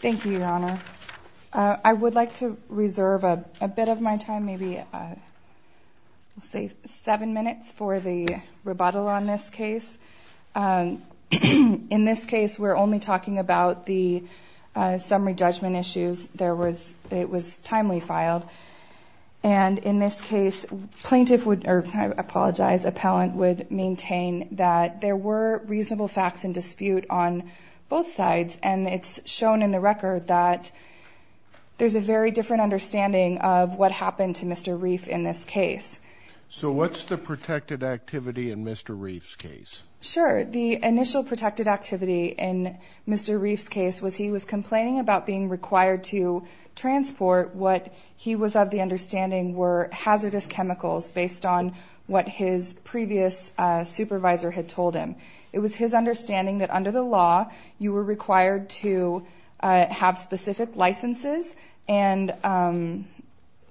Thank You Your Honor. I would like to reserve a bit of my time maybe say seven minutes for the rebuttal on this case. In this case we're only talking about the summary judgment issues there was it was timely filed and in this case plaintiff would apologize appellant would maintain that there were shown in the record that there's a very different understanding of what happened to Mr. Reif in this case. So what's the protected activity in Mr. Reif's case? Sure the initial protected activity in Mr. Reif's case was he was complaining about being required to transport what he was of the understanding were hazardous chemicals based on what his previous supervisor had told him. It was his understanding that under the law you were required to have specific licenses and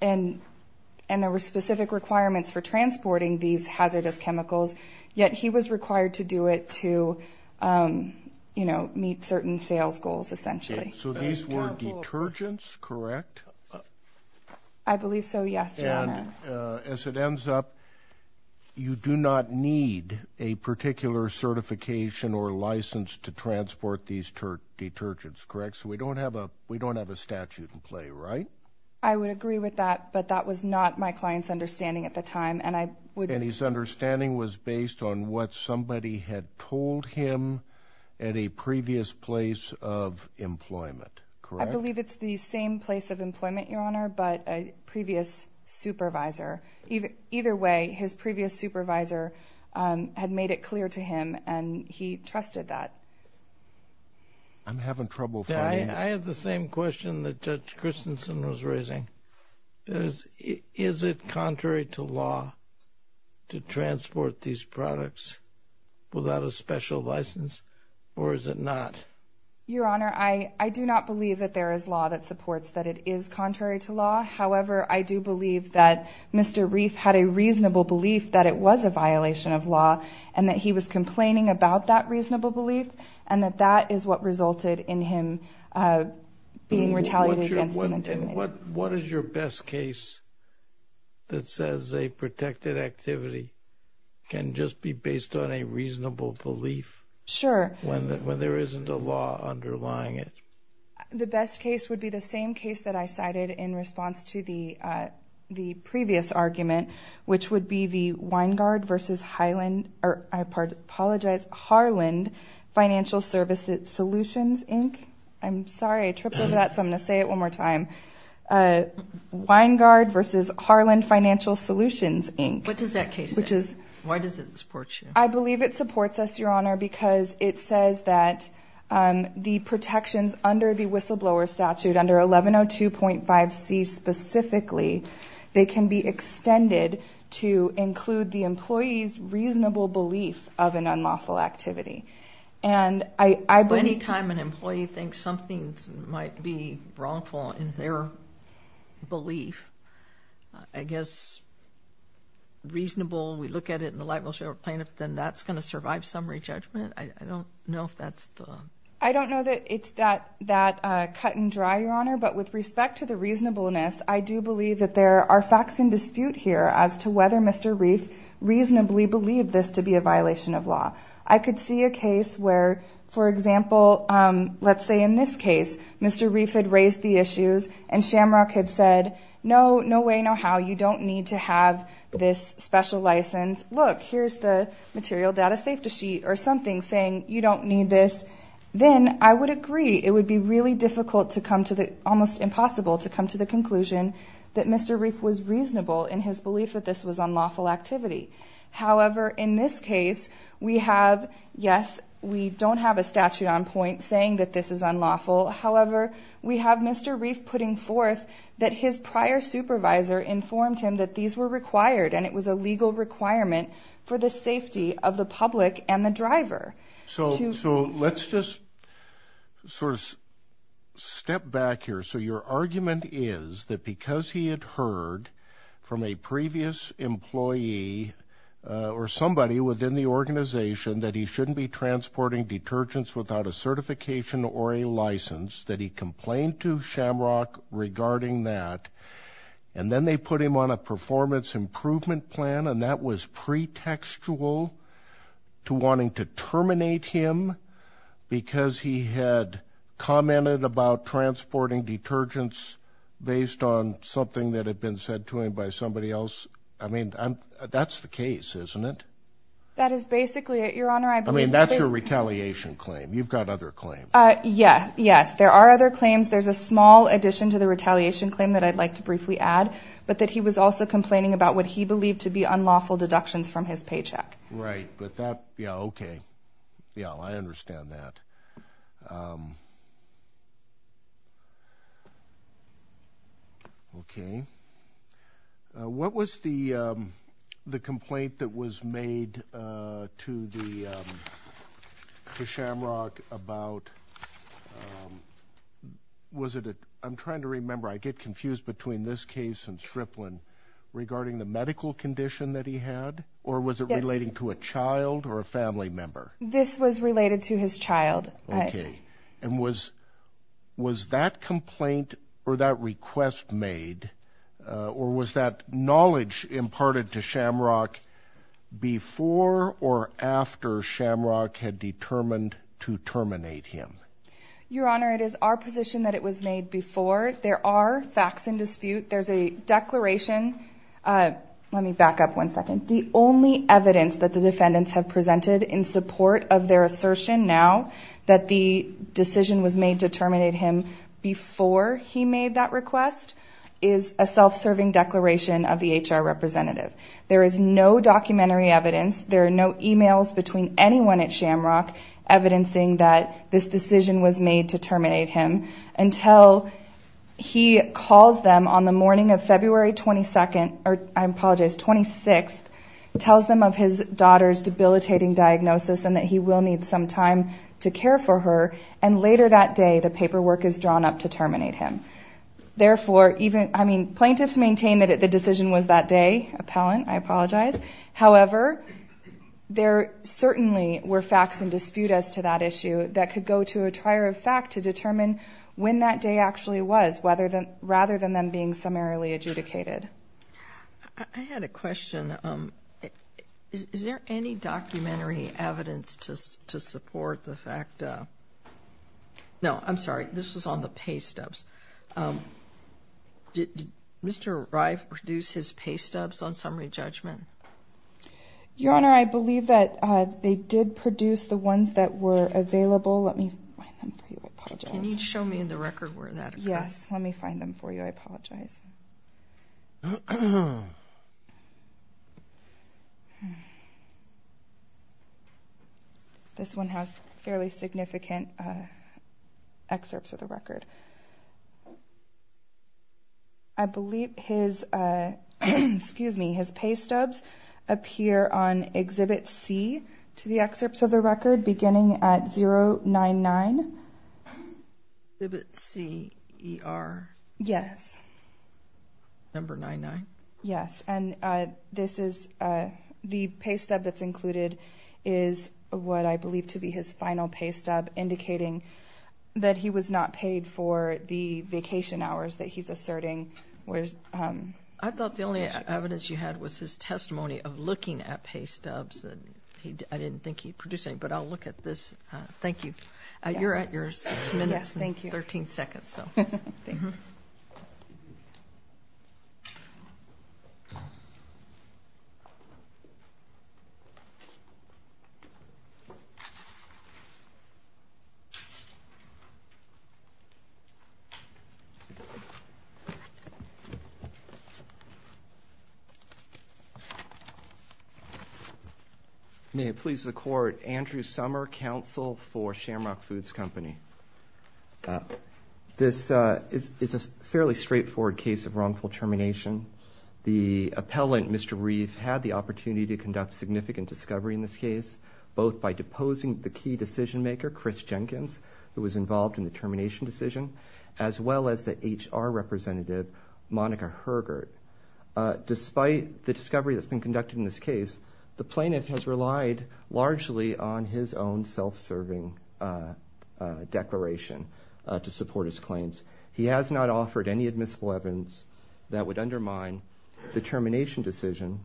there were specific requirements for transporting these hazardous chemicals yet he was required to do it to you know meet certain sales goals essentially. So these were detergents correct? I believe so As it ends up you do not need a particular certification or license to transport these detergents correct? So we don't have a we don't have a statute in play right? I would agree with that but that was not my clients understanding at the time and I would. And his understanding was based on what somebody had told him at a previous place of employment correct? I believe it's the same place of employment your honor but a previous supervisor. Either way his previous supervisor had made it clear to him and he trusted that. I'm having trouble finding. I have the same question that Judge Christensen was raising. Is it contrary to law to transport these products without a that supports that it is contrary to law? However I do believe that Mr. Reif had a reasonable belief that it was a violation of law and that he was complaining about that reasonable belief and that that is what resulted in him being retaliated. What is your best case that says a protected activity can just be based on a reasonable belief? Sure. When there isn't a law underlying it. The best case would be the same case that I cited in response to the the previous argument which would be the Weingard versus Highland or I apologize Harland Financial Services Solutions Inc. I'm sorry I tripped over that so I'm going to say it one more time. Weingard versus Harland Financial Solutions Inc. What does that case which is why does it support you? I believe it the protections under the whistleblower statute under 1102.5 C specifically they can be extended to include the employee's reasonable belief of an unlawful activity and I believe... Any time an employee thinks something might be wrongful in their belief I guess reasonable we look at it in the libel plaintiff then that's going to survive summary judgment? I don't know if that's the... I don't know that it's that that cut-and-dry your honor but with respect to the reasonableness I do believe that there are facts in dispute here as to whether Mr. Reif reasonably believed this to be a violation of law. I could see a case where for example let's say in this case Mr. Reif had raised the issues and Shamrock had said no no way no how you don't need to have this special license look here's the material data safety sheet or something saying you don't need this then I would agree it would be really difficult to come to the almost impossible to come to the conclusion that Mr. Reif was reasonable in his belief that this was unlawful activity however in this case we have yes we don't have a statute on point saying that this is unlawful however we have Mr. Reif putting forth that his prior supervisor informed him that these were required and it was a legal requirement for the safety of the public and the driver so so let's just sort of step back here so your argument is that because he had heard from a previous employee or somebody within the organization that he shouldn't be transporting detergents without a certification or a license that he complained to Shamrock regarding that and then they put him on a performance improvement plan and that was pretextual to wanting to terminate him because he had commented about transporting detergents based on something that had been said to him by somebody else I mean that's the case isn't it that is basically it your honor I mean that's your retaliation claim you've got other claims yes yes there are other claims there's a small addition to the retaliation claim that I'd like to briefly add but that he was also complaining about what he believed to be unlawful deductions from his paycheck right but that yeah okay yeah I understand that okay what was the the complaint that was made to the Shamrock about was it I'm trying to remember I get confused between this case and that he had or was it relating to a child or a family member this was related to his child okay and was was that complaint or that request made or was that knowledge imparted to Shamrock before or after Shamrock had determined to terminate him your honor it is our position that it was made before there are facts in dispute there's a declaration let me back up one second the only evidence that the defendants have presented in support of their assertion now that the decision was made to terminate him before he made that request is a self-serving declaration of the HR representative there is no documentary evidence there are no emails between anyone at Shamrock evidencing that this decision was made to terminate him until he calls them on the morning of February 22nd or I apologize 26th tells them of his daughter's debilitating diagnosis and that he will need some time to care for her and later that day the paperwork is drawn up to terminate him therefore even I mean plaintiffs maintain that the decision was that day appellant I apologize however there certainly were facts and dispute as to that issue that could go to a trier of fact to determine when that day actually was whether than rather than them being summarily adjudicated I had a question is there any documentary evidence to support the fact no I'm sorry this was on the pay stubs on summary judgment your honor I believe that they did produce the ones that were available let me show me in the record where that yes let me find this one has fairly significant excerpts of the record I believe his excuse me his pay stubs appear on exhibit C to the excerpts of the record beginning at 0 9 9 C E R yes number 9 9 yes and this is the pay stub that's included is what I believe to be his final pay stub indicating that he was not paid for the vacation hours that he's asserting where's I thought the only evidence you had was his testimony of looking at pay stubs that he didn't think he producing but I'll look at this thank you you're at yours yes thank you 13 seconds so may it please the court Andrew summer counsel for shamrock foods company this is it's a fairly straightforward case of wrongful termination the appellant mr. Reeve had the opportunity to conduct significant discovery in this case both by deposing the key decision-maker Chris Jenkins who was involved in the termination decision as well as the HR representative Monica Hergert despite the discovery that's been conducted in this case the plaintiff has relied largely on his own self-serving declaration to support his claims he has not offered any that would undermine the termination decision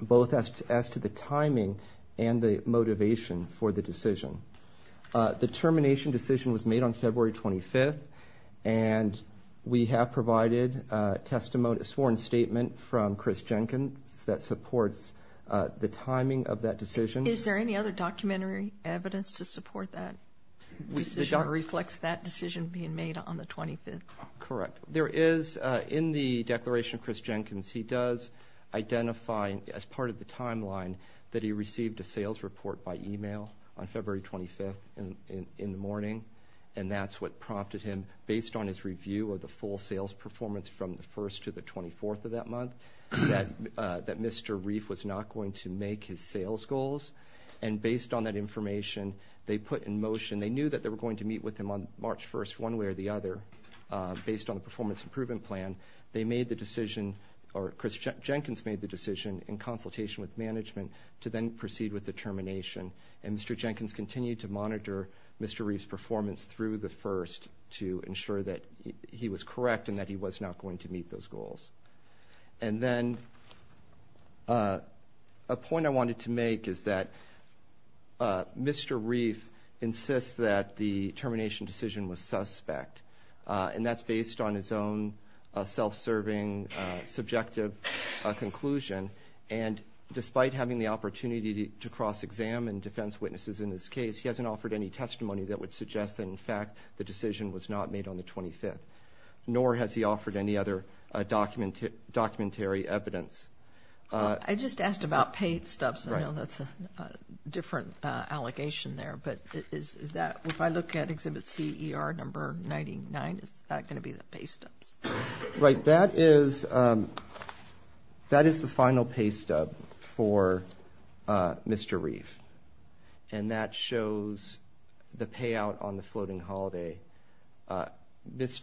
both as to the timing and the motivation for the decision the termination decision was made on February 25th and we have provided testimony sworn statement from Chris Jenkins that supports the timing of that decision is there any other documentary evidence to support that we don't reflects that decision being made on the correct there is in the declaration Chris Jenkins he does identifying as part of the timeline that he received a sales report by email on February 25th and in the morning and that's what prompted him based on his review of the full sales performance from the first to the 24th of that month that that mr. reef was not going to make his sales goals and based on that information they put in motion they knew that they were going to meet with him on March 1st one way or the other based on the performance improvement plan they made the decision or Chris Jenkins made the decision in consultation with management to then proceed with the termination and mr. Jenkins continued to monitor mr. reef's performance through the first to ensure that he was correct and that he was not going to meet those goals and then a point I wanted to make is that mr. reef insists that the termination decision was suspect and that's based on his own self-serving subjective conclusion and despite having the opportunity to cross-examine defense witnesses in his case he hasn't offered any testimony that would suggest that in fact the decision was not made on the 25th nor has he offered any other document to documentary evidence I just asked about paid stubs I know that's a different allegation there but is that if I look at exhibit CER number 99 it's not going to be the pay stubs right that is that is the final pay stub for mr. reef and that shows the payout on the it appears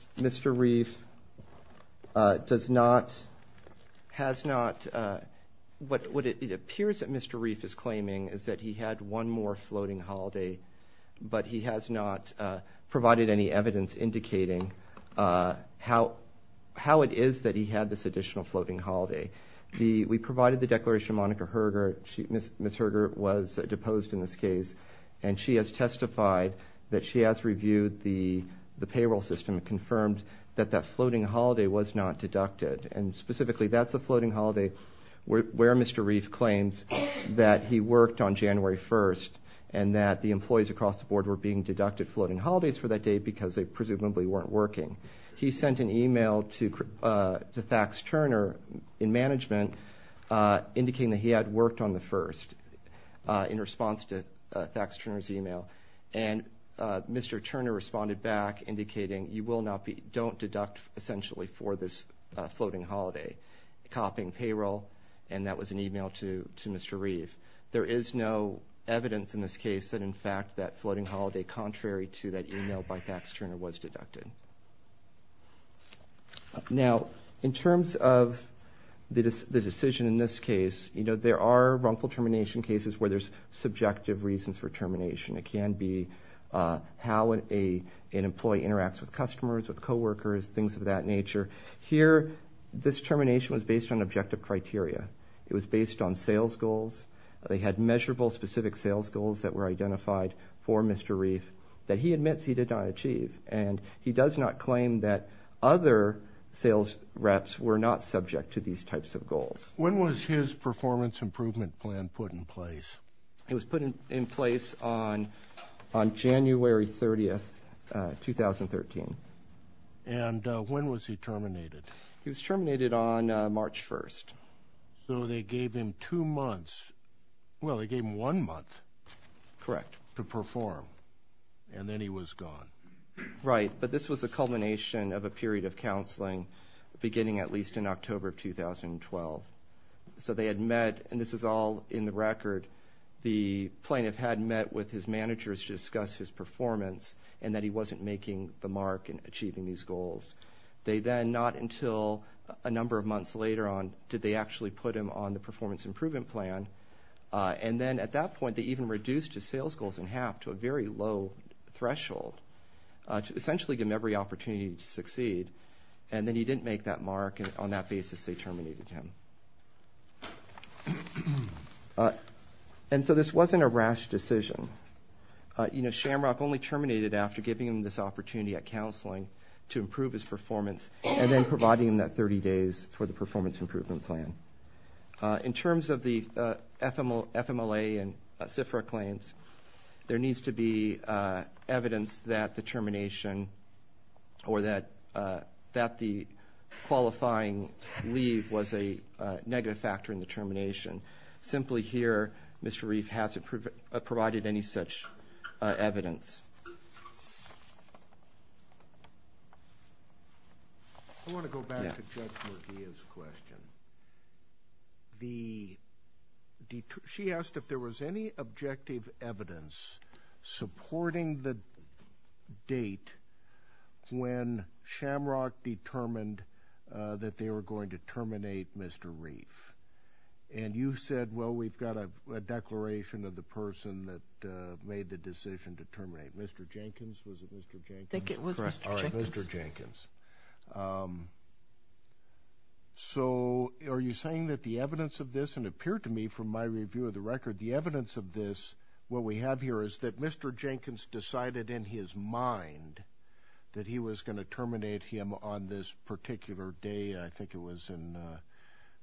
that mr. reef is claiming is that he had one more floating holiday but he has not provided any evidence indicating how how it is that he had this additional floating holiday the we provided the declaration Monica Herger miss miss Herger was deposed in this case and she has testified that she has reviewed the the payroll system confirmed that that floating holiday was not deducted and specifically that's a floating holiday where mr. reef claims that he worked on January 1st and that the employees across the board were being deducted floating holidays for that day because they presumably weren't working he sent an email to the fax Turner in management indicating that he had worked on the first in response to tax turners email and mr. Turner responded back indicating you will not be don't deduct essentially for this floating holiday copying payroll and that was an email to to mr. reef there is no evidence in this case that in fact that floating holiday contrary to that email by tax Turner was deducted now in terms of the decision in this case you know there are wrongful termination cases where there's subjective reasons for termination it can be how an employee interacts with customers with co-workers things of that nature here this termination was based on objective criteria it was based on sales goals they had measurable specific sales goals that were identified for mr. reef that he admits he did not achieve and he does not claim that other sales reps were not subject to these types of goals when was his performance improvement plan put in place it was put in place on on January 30th 2013 and when was he terminated he was terminated on March 1st so they gave him two months well they gave him one month correct to perform and then he was gone right but this was a culmination of a period of counseling beginning at least in October 2012 so they had met and this is all in the record the plaintiff had met with his managers discuss his performance and that he wasn't making the mark in achieving these goals they then not until a number of months later on did they actually put him on the performance improvement plan and then at that point they even reduced to sales goals and have to a very low threshold to essentially give him every opportunity to succeed and then he didn't make that mark and on that basis they terminated him and so this wasn't a rash decision you know shamrock only terminated after giving him this opportunity at counseling to improve his performance and then providing that 30 days for the performance improvement plan in terms of the fml fml a and cipher claims there needs to be evidence that the termination or that that the qualifying leave was a negative factor in the termination simply here mr. reef hasn't proven provided any such evidence I want to go back to judge murky is a question the d2 she asked if there was any objective evidence supporting the date when shamrock determined that they were going to terminate mr. reef and you said well we've got a declaration of the person that made the decision to terminate mr. Jenkins mr. Jenkins so are you saying that the evidence of this and appear to me from my review of the record the evidence of this what we have here is that mr. Jenkins decided in his mind that he was going to terminate him on this particular day I think it was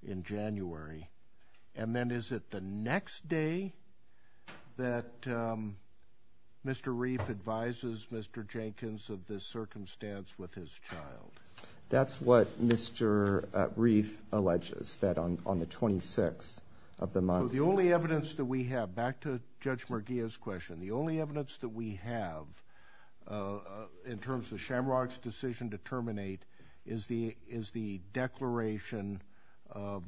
in January and then is it the next day that mr. reef advises mr. Jenkins of this circumstance with his child that's what mr. reef alleges that on on the 26 of the month the only evidence that we have back to judge merguez question the only evidence that we have in terms of shamrocks decision to terminate is the declaration of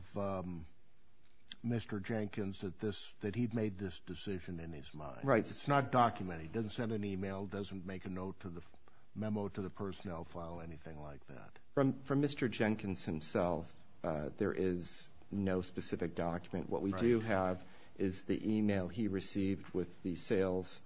mr. Jenkins that this that he'd made this decision in his mind right it's not documented doesn't send an email doesn't make a note to the memo to the personnel file anything like that from from mr. Jenkins himself there is no specific document what we do have is the email he received with the sales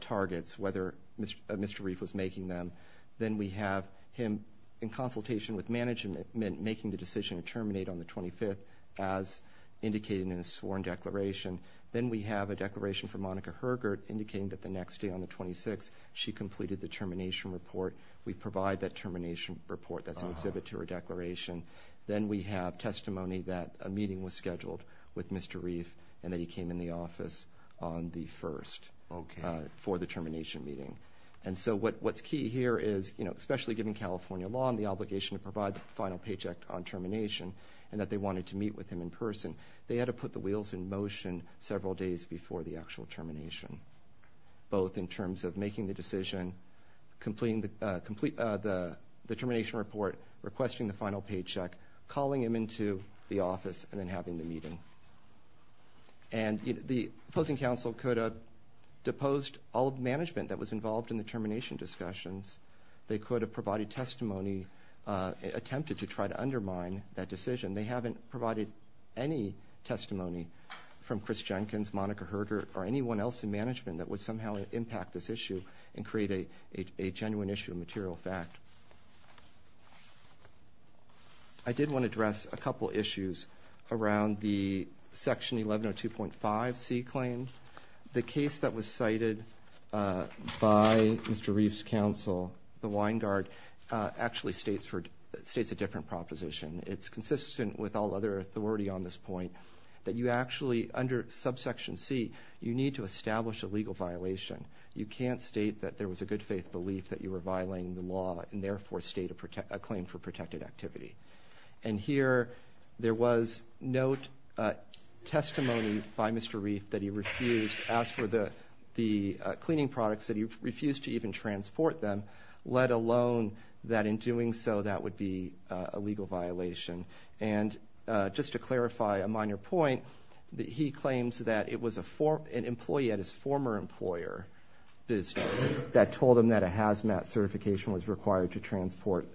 targets whether mr. reef was making them then we have him in consultation with management meant making the decision to terminate on the 25th as indicated in a sworn declaration then we have a declaration for Monica Hergert indicating that the next day on the 26 she completed the termination report we provide that termination report that's an exhibit to her declaration then we have testimony that a meeting was scheduled with mr. reef and that he came in the office on the first okay for the termination meeting and so what what's here is you know especially given California law and the obligation to provide the final paycheck on termination and that they wanted to meet with him in person they had to put the wheels in motion several days before the actual termination both in terms of making the decision completing the complete the the termination report requesting the final paycheck calling him into the office and then having the meeting and the opposing counsel could deposed all of management that was involved in the termination discussions they could have provided testimony attempted to try to undermine that decision they haven't provided any testimony from Chris Jenkins Monica Hergert or anyone else in management that would somehow impact this issue and create a genuine issue of material fact I did want to address a couple issues around the section 1102.5 C claim the case that was cited by mr. Reeves counsel the wine guard actually states for states a different proposition it's consistent with all other authority on this point that you actually under subsection C you need to establish a legal violation you can't state that there was a good faith belief that you were violating the law and therefore state a claim for protected activity and here there was note testimony by mr. Reef that he refused asked for the the cleaning products that he refused to even transport them let alone that in doing so that would be a legal violation and just to clarify a minor point that he claims that it was a form an employee at his former employer business that told him that a hazmat certification was to transport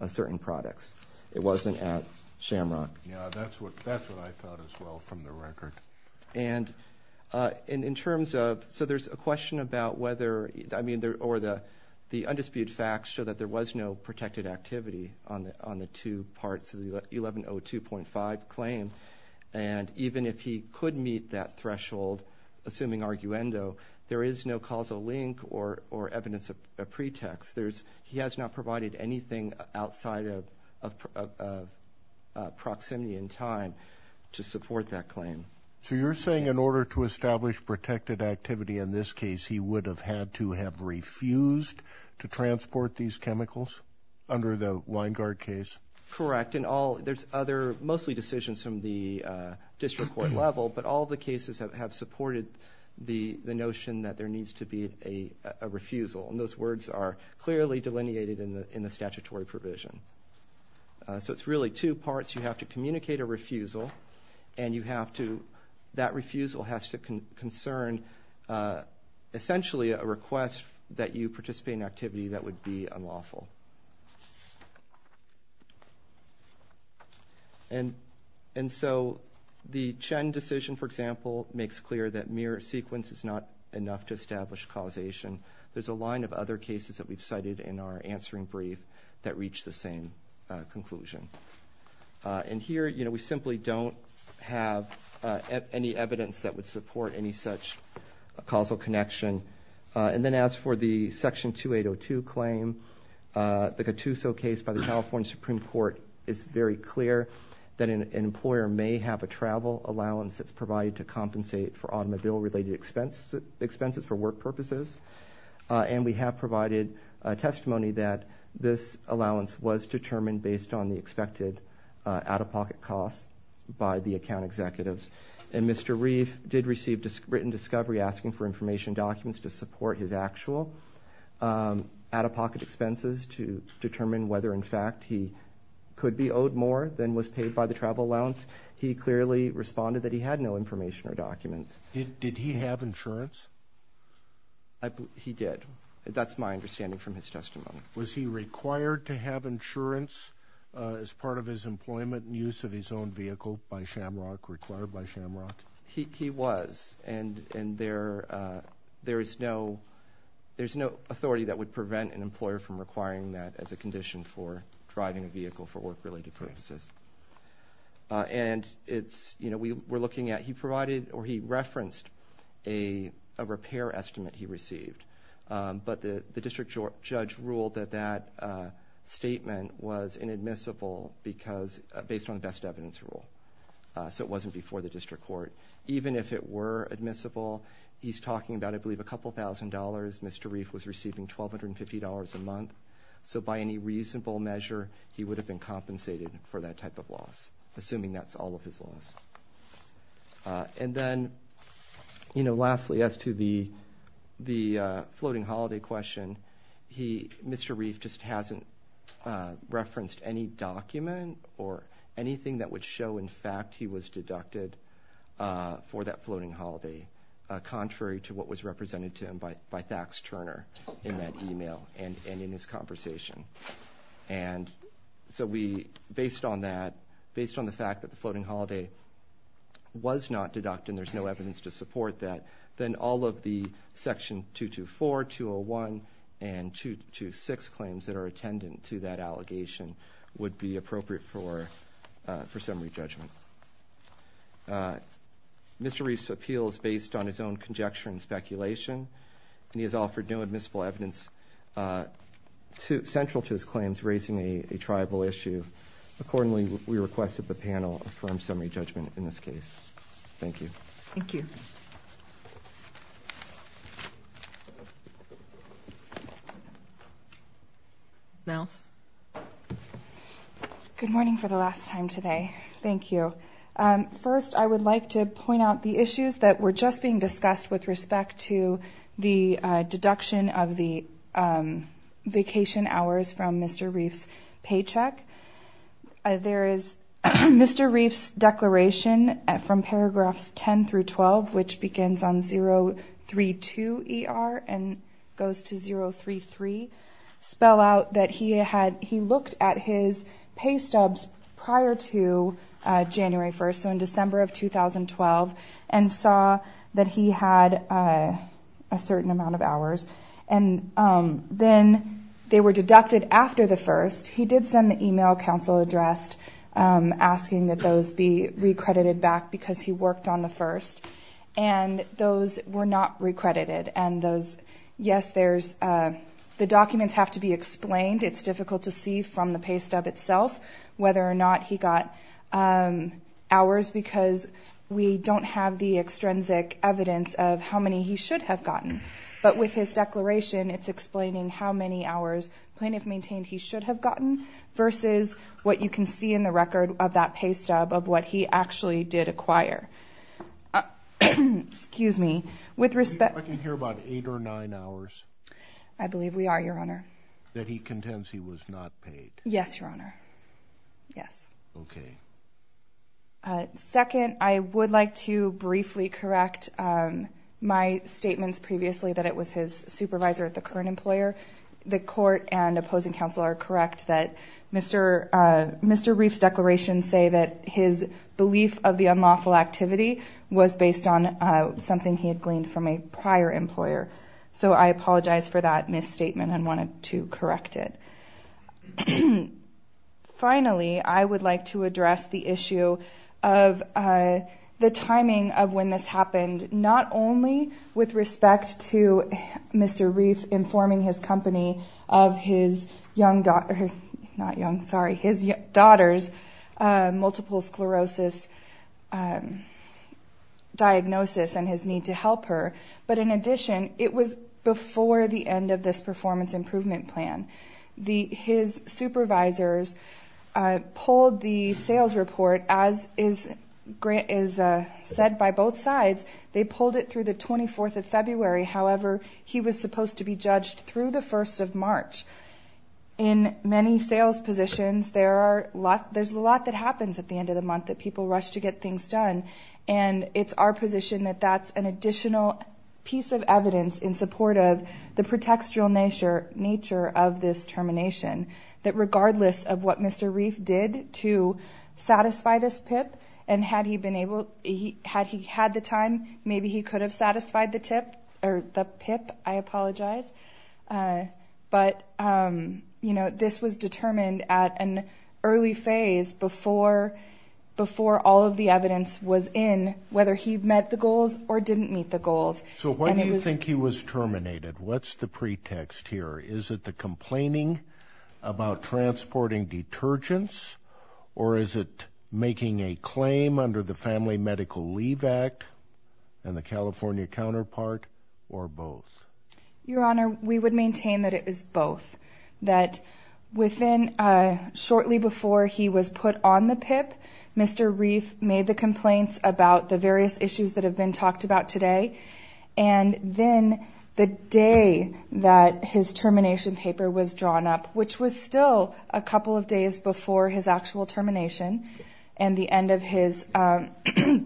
a certain products it wasn't at shamrock yeah that's what that's what I thought as well from the record and in terms of so there's a question about whether I mean there or the the undisputed facts show that there was no protected activity on the on the two parts of the 1102.5 claim and even if he could meet that threshold assuming arguendo there is no causal link or or a pretext there's he has not provided anything outside of proximity in time to support that claim so you're saying in order to establish protected activity in this case he would have had to have refused to transport these chemicals under the line guard case correct and all there's other mostly decisions from the district court level but all the cases that have supported the the notion that there needs to be a refusal and those words are clearly delineated in the in the statutory provision so it's really two parts you have to communicate a refusal and you have to that refusal has to concern essentially a request that you participate in activity that would be unlawful and and so the Chen decision for example makes clear that mere sequence is not enough to establish causation there's a line of other cases that we've cited in our answering brief that reach the same conclusion and here you know we simply don't have any evidence that would support any such a causal connection and then as for the section 2802 claim the Gattuso case by the California Supreme Court is very clear that an employer may have a travel allowance that's provided to compensate for automobile related expense expenses for work purposes and we have provided a testimony that this allowance was determined based on the expected out-of-pocket costs by the account executives and mr. reef did receive just written discovery asking for information documents to support his actual out-of-pocket expenses to determine whether in fact he could be owed more than was paid by the travel allowance he clearly responded that he had no information or documents did he have insurance I believe he did that's my understanding from his testimony was he required to have insurance as part of his employment and use of his own vehicle by shamrock required by shamrock he was and and there there is no there's no authority that would prevent an employer from requiring that as a condition for driving a vehicle for work-related purposes and it's you know we were looking at he provided or he referenced a repair estimate he received but the the district judge ruled that that statement was inadmissible because based on best evidence rule so it wasn't before the district court even if it were admissible he's talking about I believe a couple thousand dollars mr. reef was receiving twelve hundred and fifty dollars a month so by any reasonable measure he would have been compensated for that type of loss assuming that's all of his loss and then you know lastly as to the the floating holiday question he mr. reef just hasn't referenced any document or anything that would show in fact he was deducted for that floating holiday contrary to what was represented to him by by fax Turner in that email and in his conversation and so we based on that based on the fact that the floating holiday was not deducted there's no evidence to support that then all of the section 224 201 and 226 claims that are attendant to that allegation would be appropriate for for Mr. Reese appeals based on his own conjecture and speculation and he has offered no admissible evidence to central to his claims raising a tribal issue accordingly we requested the panel from summary judgment in this case thank you thank you now good morning for the last time today thank you first I would like to point out the issues that were just being discussed with respect to the deduction of the vacation hours from mr. Reeves paycheck there is mr. Reeves declaration from paragraphs 10 through 12 which begins on 0 3 2 er and goes to 0 3 3 spell out that he had he looked at his pay stubs prior to January 1st in December of 2012 and saw that he had a certain amount of hours and then they were deducted after the first he did send the email counsel addressed asking that those be recredited back because he worked on the first and those were not recredited and those yes there's the documents have to be explained it's difficult to see from the pay stub itself whether or not he got hours because we don't have the extrinsic evidence of how many he should have gotten but with his declaration it's explaining how many hours plaintiff maintained he should have gotten versus what you can see in the record of that pay stub of what he actually did acquire excuse me with respect I can hear about eight or nine hours I believe we are your honor that he contends he was not paid yes your honor yes okay second I would like to briefly correct my statements previously that it was his supervisor at the current employer the court and opposing counsel are correct that mr. mr. Reeves declaration say that his belief of the unlawful activity was based on something he had gleaned from a prior employer so I apologize for that misstatement and wanted to correct it finally I would like to address the issue of the timing of when this happened not only with respect to mr. Reeves informing his his young daughter not young sorry his daughters multiple sclerosis diagnosis and his need to help her but in addition it was before the end of this performance improvement plan the his supervisors pulled the sales report as is grant is said by both sides they pulled it through the 24th of February however he was supposed to be judged through the 1st of March in many sales positions there are a lot there's a lot that happens at the end of the month that people rush to get things done and it's our position that that's an additional piece of evidence in support of the pretextual nature nature of this termination that regardless of what mr. reef did to satisfy this pip and had he been able he had he had the time maybe he could have satisfied the tip or the apologize but you know this was determined at an early phase before before all of the evidence was in whether he met the goals or didn't meet the goals so what do you think he was terminated what's the pretext here is it the complaining about transporting detergents or is it making a claim under the Family Medical Leave Act and the California counterpart or both your honor we would maintain that it is both that within a shortly before he was put on the pip mr. reef made the complaints about the various issues that have been talked about today and then the day that his termination paper was drawn up which was still a couple of days before his actual termination and the end of his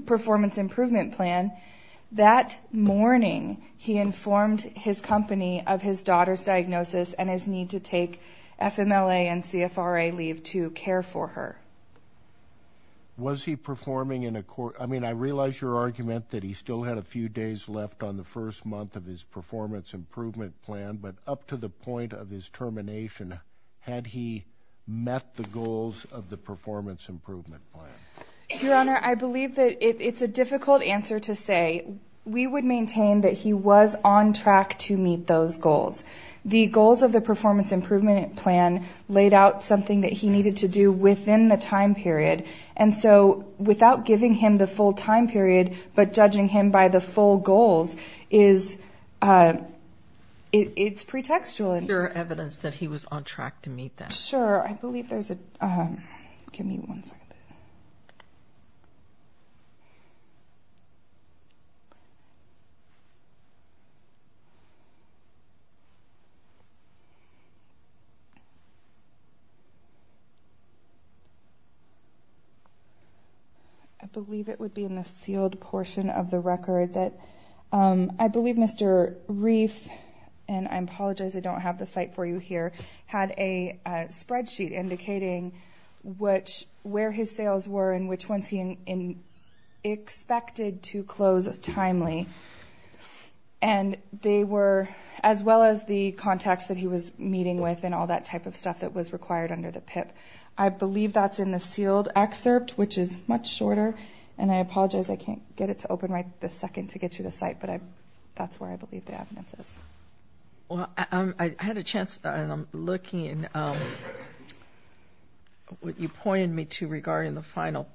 performance improvement plan that morning he informed his company of his daughter's diagnosis and his need to take FMLA and CFRA leave to care for her was he performing in a court I mean I realize your argument that he still had a few days left on the first month of his performance improvement plan but up to the point of his termination had he met the goals of the performance your honor I believe that it's a difficult answer to say we would maintain that he was on track to meet those goals the goals of the performance improvement plan laid out something that he needed to do within the time period and so without giving him the full time period but judging him by the full goals is it's pretextual and your evidence that he was on track to meet that sure I believe it would be in the sealed portion of the record that I believe mr. reef and I apologize I don't have the site for you here had a spreadsheet indicating which where his sales were in which ones he in expected to close timely and they were as well as the contacts that he was meeting with and all that type of stuff that was required under the pip I believe that's in the sealed excerpt which is much shorter and I apologize I can't get it to open right the second to get to the site but I that's where I believe the evidence is I had a chance and I'm looking at what you pointed me to regarding the final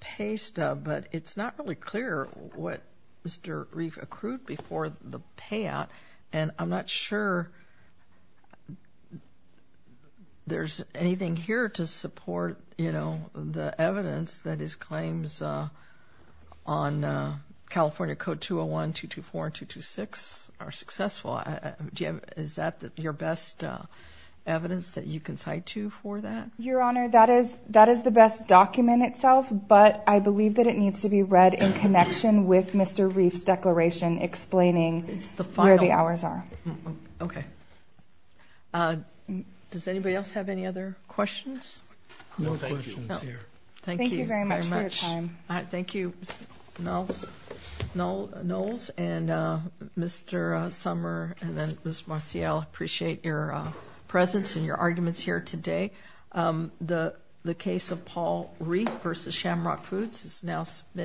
paste but it's not really clear what mr. reef accrued before the payout and I'm not sure there's anything here to support you know the evidence that his your best evidence that you can cite you for that your honor that is that is the best document itself but I believe that it needs to be read in connection with mr. reefs declaration explaining it's the fire the hours are okay does anybody else have any other questions thank you very much I thank you no no no and mr. summer and then miss Marcial appreciate your presence and your arguments here today the the case of Paul reef versus shamrock foods is now